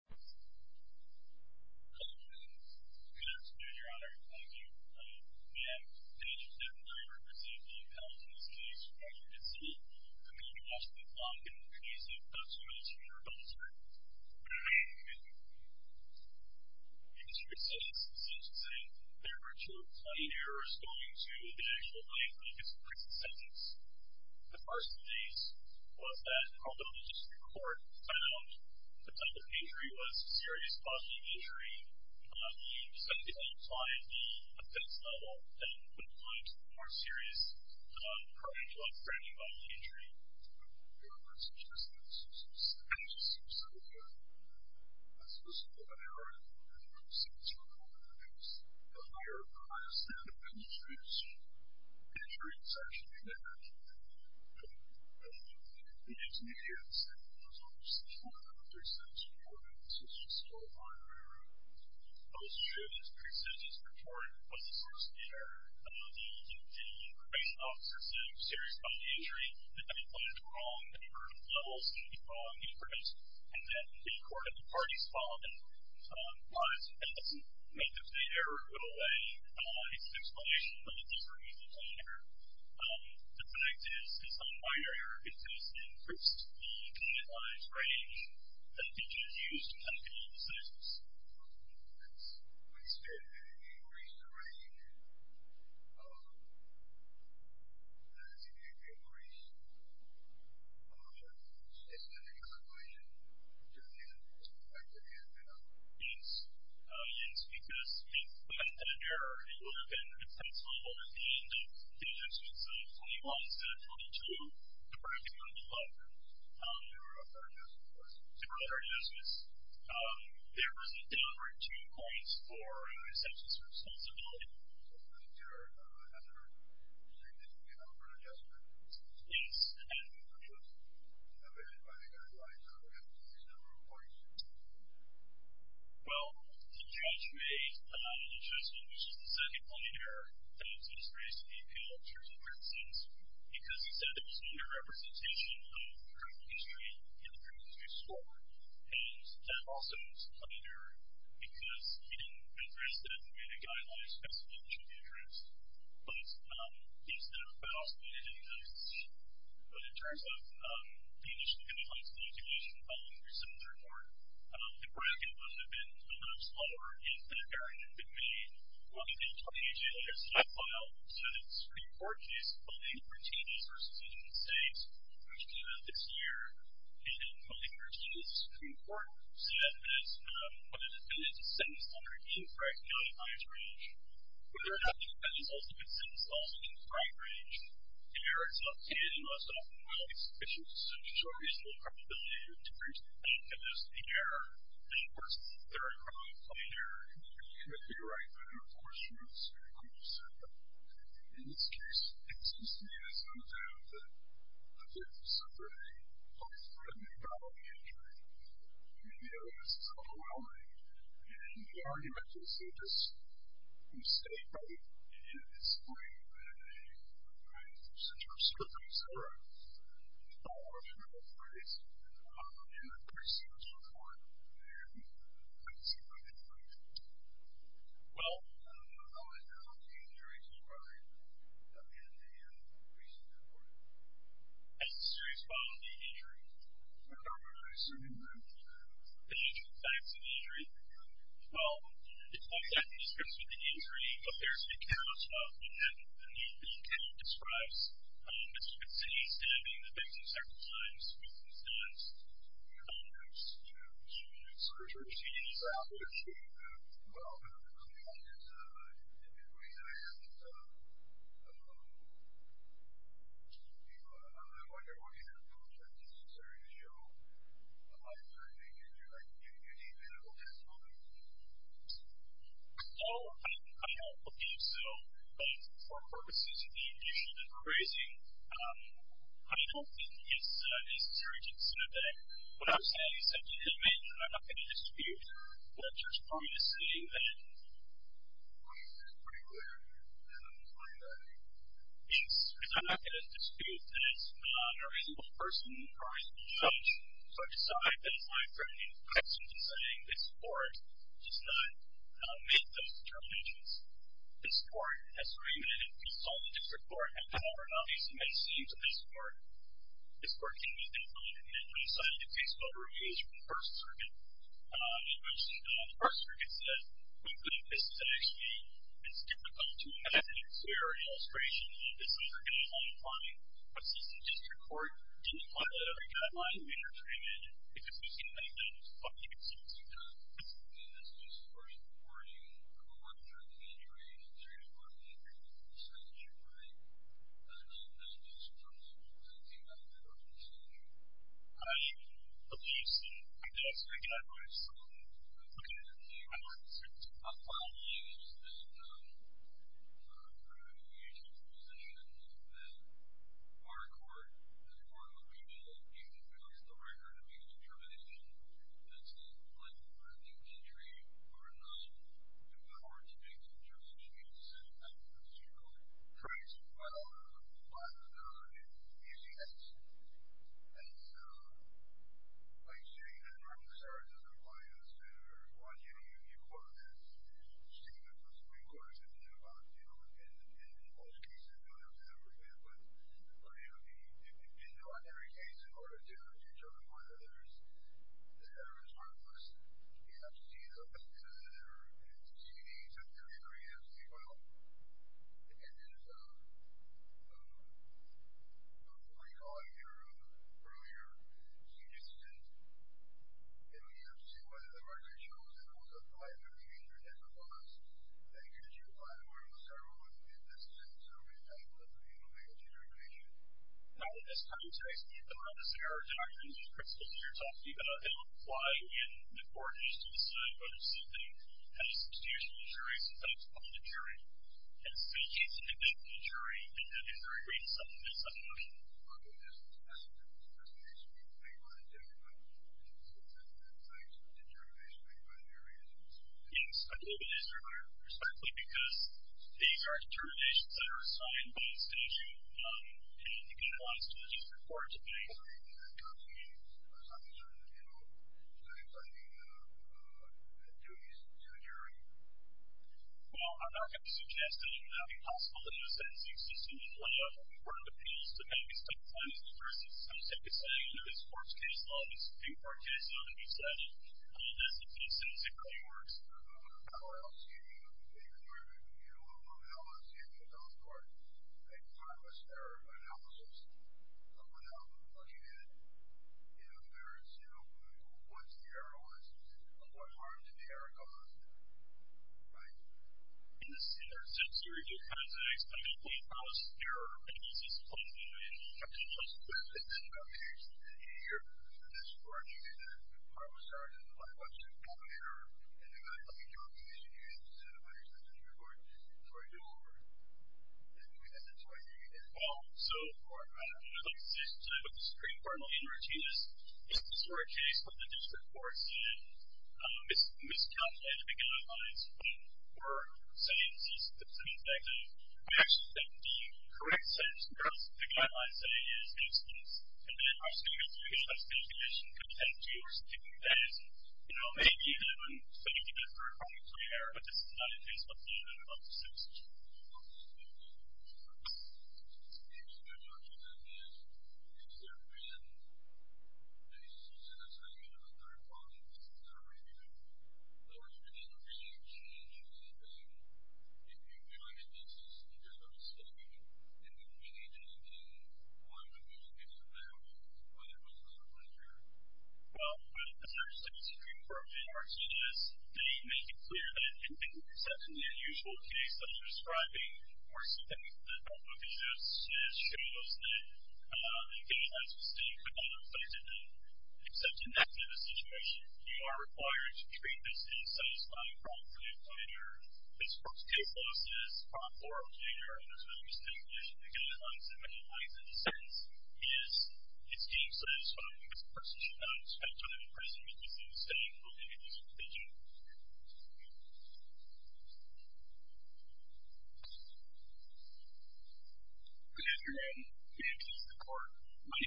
Hello, good afternoon, your honor. Thank you. May I have the pleasure to have the honor of presenting to you the panelist in this case, Roger Bitsinnie, the man who lost his life in the case of Dutch military rebellion. Okay, thank you. In this case, as I was just saying, there were two plain errors going to the actual plaintiff in this prison sentence. The first of these was that although the district court found the type of injury was serious positive injury, the defendant declined the offense level and put the client to a more serious, paragraph-framing-level injury. Okay, your honor, since this case is so specific, let's just look at the error in the first instance we're talking about in the case. The higher the highest standard of indiscretion, the injury is actually negative. Okay. In this case, it was almost as if one of the three sentences reported was a serious positive injury. Okay. It was true that the three sentences reported was a positive error. The probation officer said it was a serious positive injury. The defendant went into the wrong number of levels, the wrong inference, and then the court of the parties followed him. But that doesn't make the plain error go away. It's an explanation, but it doesn't remove the plain error. The plaintiff's own minor error, it does increase the criminalized range that a defendant used in technical decisions. Okay. We said that if you increase the range, that is, if you increase the standard of inclination to the end, to the fact that the end is not true. Yes. Yes, because if we hadn't done an error, it would have been an intense level at the end of the instance of 21 instead of 22, depriving the plaintiff of their other justices. Their other justices. Yes. There was a downward 2 points for an exemption to responsibility. So for the pure hazard, you're saying that you can't offer an adjustment? Yes. And what was indicated by the guidelines? I don't have the exact number of points. Well, the judge made an adjustment, which is the second plain error, that was just raised to the appeal of the jury's acquittances, because he said it was an under-representation of the criminal history and the criminal history score. And that also is a plain error, because he didn't address that in the way the guidelines specify it should be addressed. But it's there about the end of the instance. But in terms of the initial criminalized inclination, following your sentence report, the bracket would have been a lot slower in that area. It would have been, well, you did a 28-day legislative file, so it's pretty important to use the funding for changes versus existing states, which did it this year. And the language in this Supreme Court said that it's not, when a defendant is sentenced under infraction, not at highest range. But there have been defendants also been sentenced also in infraction range. The error is not stated in the list at all. Well, these issues show reasonable probability of decrease, and there's the error. And, of course, there are crimes of plain error, and you can't be right, but there are, of course, routes and groups. In this case, it seems to me that it's not a bad thing. I think it's a pretty positive probability. I mean, the error is overwhelming. And the argument is, it's just you say, right, it's plain, right, since you're a citizen, et cetera, you follow the criminal practice. And, of course, it was in court. And I can see why that might have been the case. Well. How has the injury to the body of the defendant been recently reported? It's a serious bodily injury. How is it a serious injury? The usual types of injury. Well, it's not yet described as an injury, but there's accounts of it, and the account describes it's an e-stabbing, the victim's circumcised, with the stabs, and, you know, surgery is out of date. Well, I mean, I guess in many ways, I guess it's, I mean, I wonder, what do you think, is it necessary to show a life-threatening injury? Like, do you need medical testimony? Oh, I don't think so. But for purposes of being a little bit crazy, I don't think it's necessary to consider that. What I'm saying is that, I mean, I'm not going to dispute the judge's policy, but it's pretty clear that I'm not going to dispute that it's not a reasonable person, a reasonable judge, so I decide that if I bring any questions in saying this court does not make those determinations, this court has already been consulted, and the district court has however, not made so many scenes of this court, this court can be defined, and I decided to take some of the reviews from the first circuit, in which the first circuit said, we believe this is actually, it's difficult to imagine and clear an illustration that this is a guideline applying, but since the district court didn't apply that every guideline we entered in, if it was going to make that, it was probably going to take some time. And this is just a question for you, the court, during the injury, the district court, did they make a determination, right? I don't know the answer to that question, but I think that was their decision. I, at least, I guess, I can't answer that question. Okay. The district court, I believe, is that, through an agent's position, that our court, the court located, if it fails the record, to make a determination, that's like, in a new country, we're not allowed to make such a decision. That's the district court. Well, I don't know, I mean, usually that's, that's, like, you know, you have to start with compliance, or, one, you know, you quote this statement, the Supreme Court has written it about, you know, in most cases, I don't know if it's ever been, but, you know, in every case, in order to determine whether there's, you know, whether there's harmlessness, you have to see the, you know, there, it's a TV, it's a 33, it's a 12, and there's, um, um, um, recalling your, um, earlier, you just said, you know, you have to see whether there are issues, and also, like, if the agent has a clause that you should apply to, or, you know, several of the, the decisions, or any type of, you know, negligence or evasion. Now, in this context, there are, there are, in principle, that you're talking about, that don't apply in the court, as you said, but it's something that is institutional to juries, and so it's called a jury. And so, it's an individual jury, and that individual jury reads some of this, some of the motions. MR. BROMLEY. Okay. That's a good, that's a good point. That's a good point. Thank you. I want to jump in on a couple of things, because that's, that's actually a determination by the jury, and it's, it's, I believe it is, respectfully, because these are determinations that are assigned by statute, and I think it applies to the different courts, MR. BROMLEY. Well, I mean, does that mean, does that mean, you know, does that mean, does that mean that, that duties to the jury? MR. BROMLEY. Well, I'm not going to suggest, and it would not be possible to do a sentencing system in playoff. We work with appeals, depending on the state of the law, I'm just going to say, you know, this court's case law, this new court case law that we set up, that's the case that essentially works. MR. BROMLEY. How else do you, do you, do you know balloths, if, and on the court, say promise or analysis, what outlook? How do you get it? You know, there is no, once they are honest about what harm did they already caused. Right? MR. BROMLEY. So that's the reason it's not an explicitly promise of error you talked about just crops at the gates. And here in this court, you can have promised as an attorney, then I hope your is the case, but I don't know if that's an appropriate court decision for you, or is it necessary for you to do this? MR. GARGANO. Well, so far, I don't know if it exists, but the Supreme Court, in routine, has, in this court case, with the district courts, has miscalculated the guidelines for sentences. In fact, we actually have 17 correct sentences, whereas the guidelines say it is instance. And then, obviously, you have to deal with the litigation, because you have two or something like that. And, you know, maybe even when, so you can get a firm promise of error, but this is not an instance. MR. GARGANO. Well, I don't know if it exists, in routine, has miscalculated the guidelines for sentences. we actually have 17 correct sentences, whereas the guidelines say it is instance. And then, you have to deal with the litigation, because you have two or something like that. MR. GARGANO. Okay. Well, so far, I don't know if it exists, but the Supreme Court, in routine, has miscalculated the guidelines for sentences. And, it's not the usual case that I'm describing, or something that I'm looking at as showing us that, again, has miscalculated the exception to the situation. You are required to treat this as satisfying, wrongfully applied error. This works as lawful or okay error, and there's no distinction between the guidelines. And, what it means in a sentence is it's being satisfying, I don't know if it exists, in routine, has miscalculated the guidelines for sentences. And, again, I don't know if it exists, but the Supreme Court, in routine, has miscalculated the exception to the situation. wrongfully applied error. MR. GARGANO. Good afternoon, MPS and the Court. My name is Anthony Gunther. I represent the Allied United States of America. This Court has determined the sentence, in criminal office of obstructive abuse convictions, to be imposed by the Supreme Court, because it's been used for almost 70 years. It has been used brutally and tamed, It's been broken, blended, and softened every nearly a year. It was tamped around nine times, with the greatest effort and the greatest effort ever. and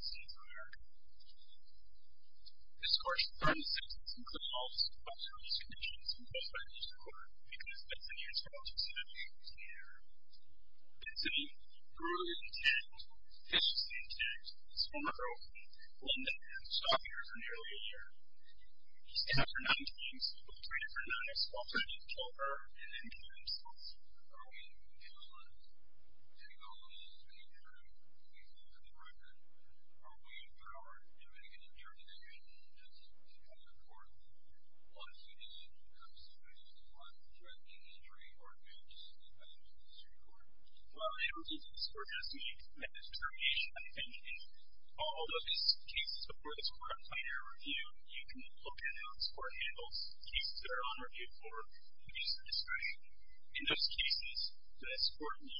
softened ever. It's been tamed and softened is strained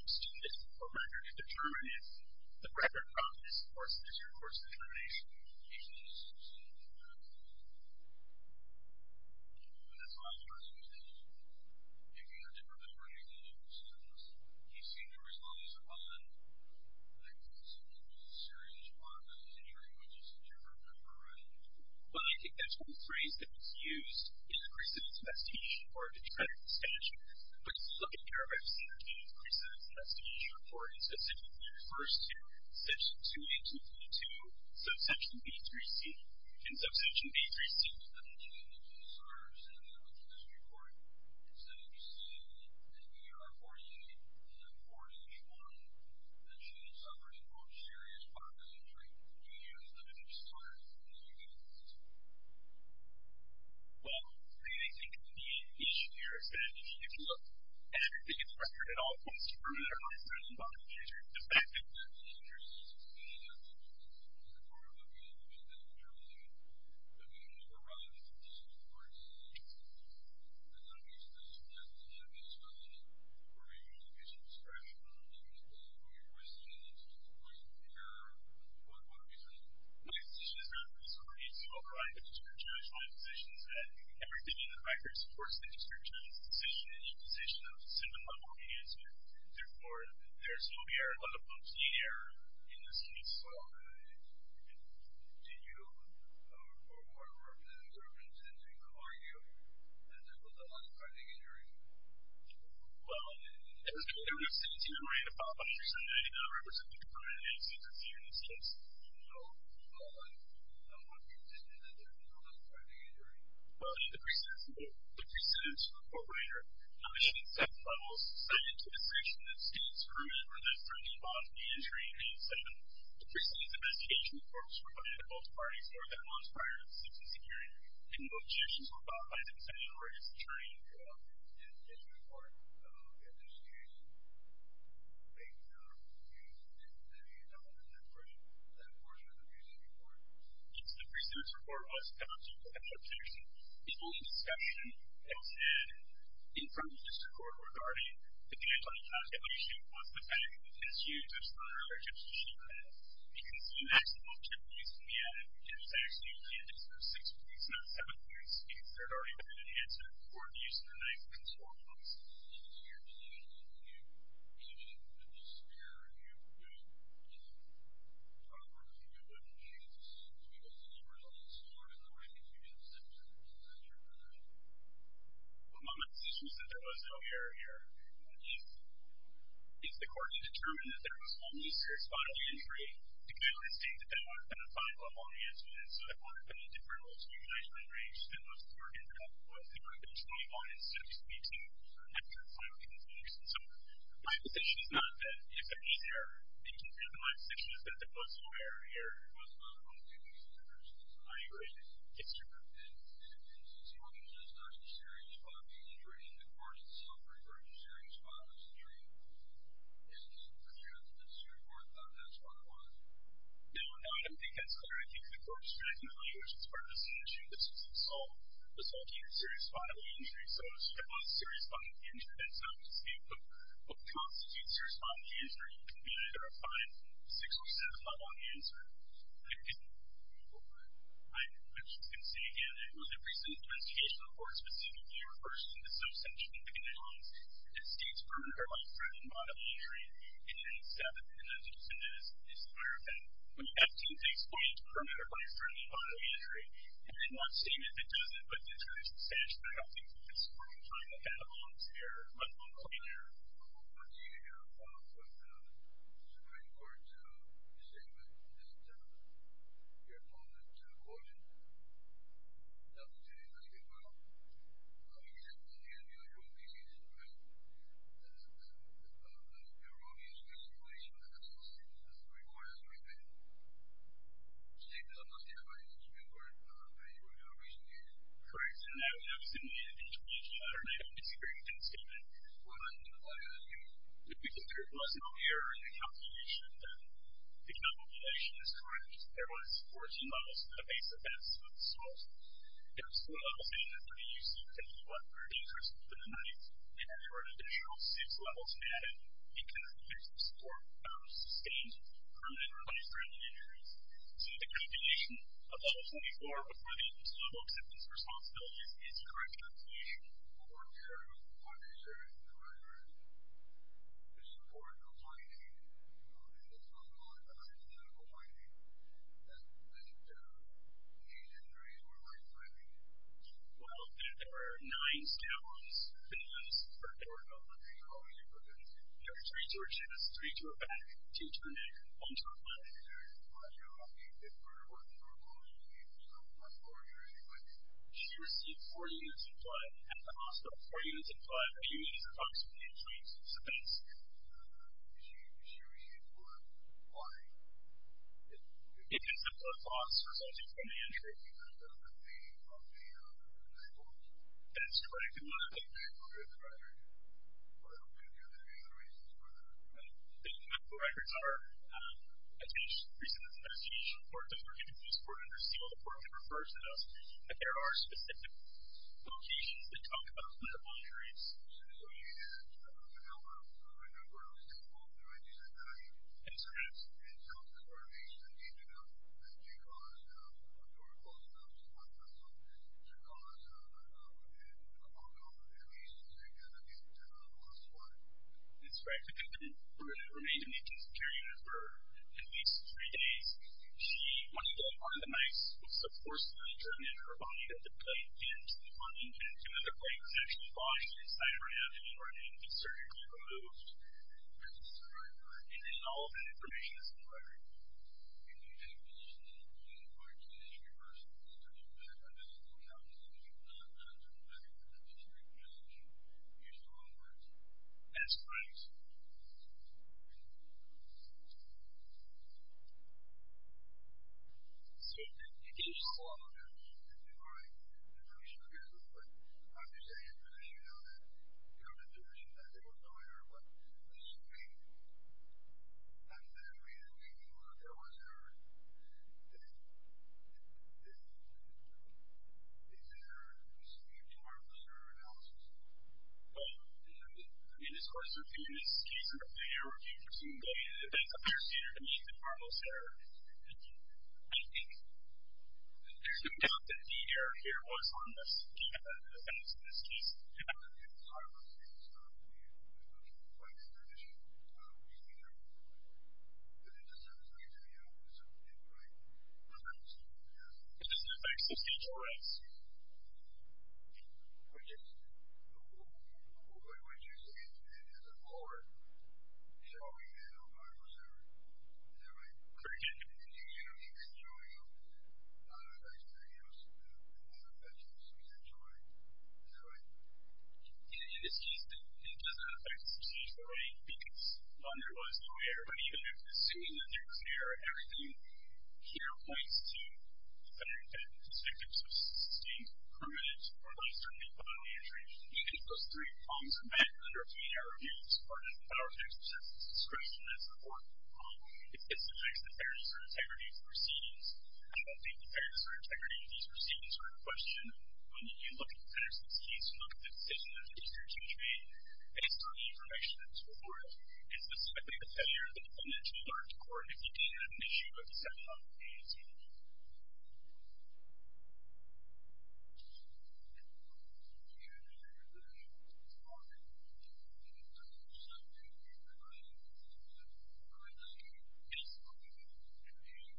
the record to determine it. The record from this course is your course of determination. But I think that's one phrase that was used in the recidivist vestige, or to try to normalize this. So, here is the message of the course. The fact is that the interest is to see if the court will be able to make that clear in the end. But we need to override the decision of the court. My position is not that this court needs to override the decision of the judge. My position is that everything in this record supports the district judge's decision in imposition of a simple public answer. Therefore, there will be a relative obscene error in this case. Well, it was clear we were sitting here waiting to follow up on the decision. I did not represent the department in any way to interfere in this case. No. No. No. I'm not convinced that there is an offense prior to the injury.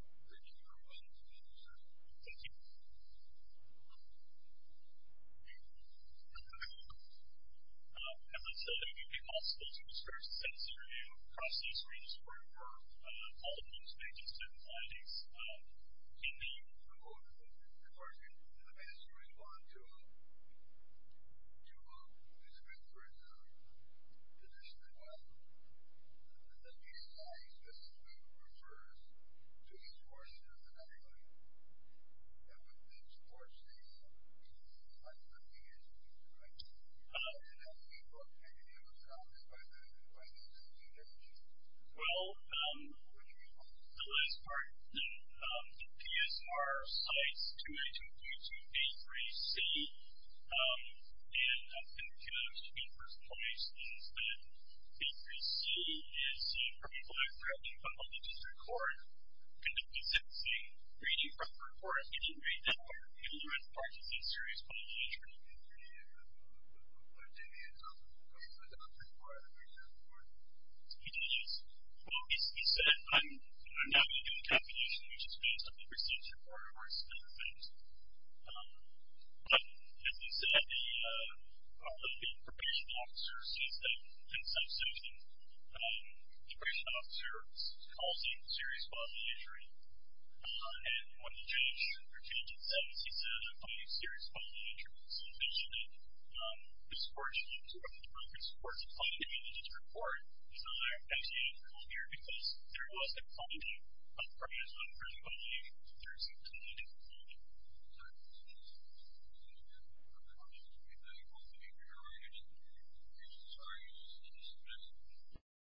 Yes. Yes, there is an offense prior to the injury. Yes. Yes. Yes. You're absolutely right in that this report — in this case you're using a nice consortium. Well, my position is that there was no error here. Yes. Yes, sir. And since you only used a 9th series, 5th series injury, and the court is suffering from a series 5 injury, is it clear that this report found that spot? No, I don't think that's clear. I think the court is trying to tell you, which is part of the same issue, that this was assault, assaulting a series 5 injury. So, if it was a series 5 injury, that's not to say what constitutes a series 5 injury. It can be either a 5, 6, or 7 spot on the injury. I'm just going to say again, it was a recent investigation report specifically refers to the subsection in the guidelines that states permanent or life-threatening bodily injury and then 7th, and that's what's in this. This is a higher offense. When you add to the base point, permanent or life-threatening bodily injury, and then one statement that doesn't, but it's going to be substantial, I don't think it's worth trying to add on to there. But I'm not going to be there. I'm not going to be there, but the Supreme Court's statement isn't your opponent's version. That was stated in the statement. I mean, he said, in the end, the only rule he sees in the rest of it is the erroneousness of relation and that's what's stated in the Supreme Court's statement. Mr. Davis, I'm not sure if I understood your question, but you were doing a recent investigation. Correct, and that was in the investigation letter that I was hearing from the statement. What did you find out in that statement? It was that there was no error in the calculation, that the calculation is correct. There was 14 levels of base offense with assault. There were still levels in it that could be used to continue up for an increase within a month, and there were an additional six levels added because there's a support of sustained permanent or life-threatening injuries. So, the calculation of all 24 was within civil acceptance responsibilities. It's correct calculation. But weren't there other services that were in there to support compliance? I mean, there's not a lot of hypothetical compliance that would lead to any injuries or life-threatening injuries. Well, there were nine scale-ups, and there were three to a chest, three to a back, two to a neck, and one to a foot. She received four units of blood at the hospital, four units of blood, a few units of oxygen, and two units of substance. It was a foot loss for subject to an injury. That's correct. The medical records are, as each report does, we're going to use court under seal. The court will refer to those. There are specific locations that talk about blood monitoring. It's correct. It's correct. It's correct. It's correct. It's correct. It's correct. It's correct. It's correct. It's correct. It's correct. It's correct. It's correct. Correct. It's correct. Thank you. Thank you. As I said, if you could also go to the screen to send us an interview. Across the screen is where all of the news pages are. We have quite a few websites here. Thank you. I'm going to start with the PSR site, 28222A3C. And I've been given a few personal mentions, but A3C is the criminal act that I've been found on the District Court. And the piece that's being read in front of the Court is, we didn't read that letter. We didn't read the part that's in serious public interest. We didn't use it. We didn't use it. Well, he said, I'm not going to do a computation. We're just going to do something that receives the report of our assessment. But, as he said, the probation officer sees that, thinks that's interesting. The probation officer calls it serious bodily injury. And when the change in sentence, he says, I call you serious bodily injuries. So he mentioned that the Supreme Court can support the quality of the District Court. And I actually didn't call here because there was a quality of probation. There's a quality. There's a committed quality.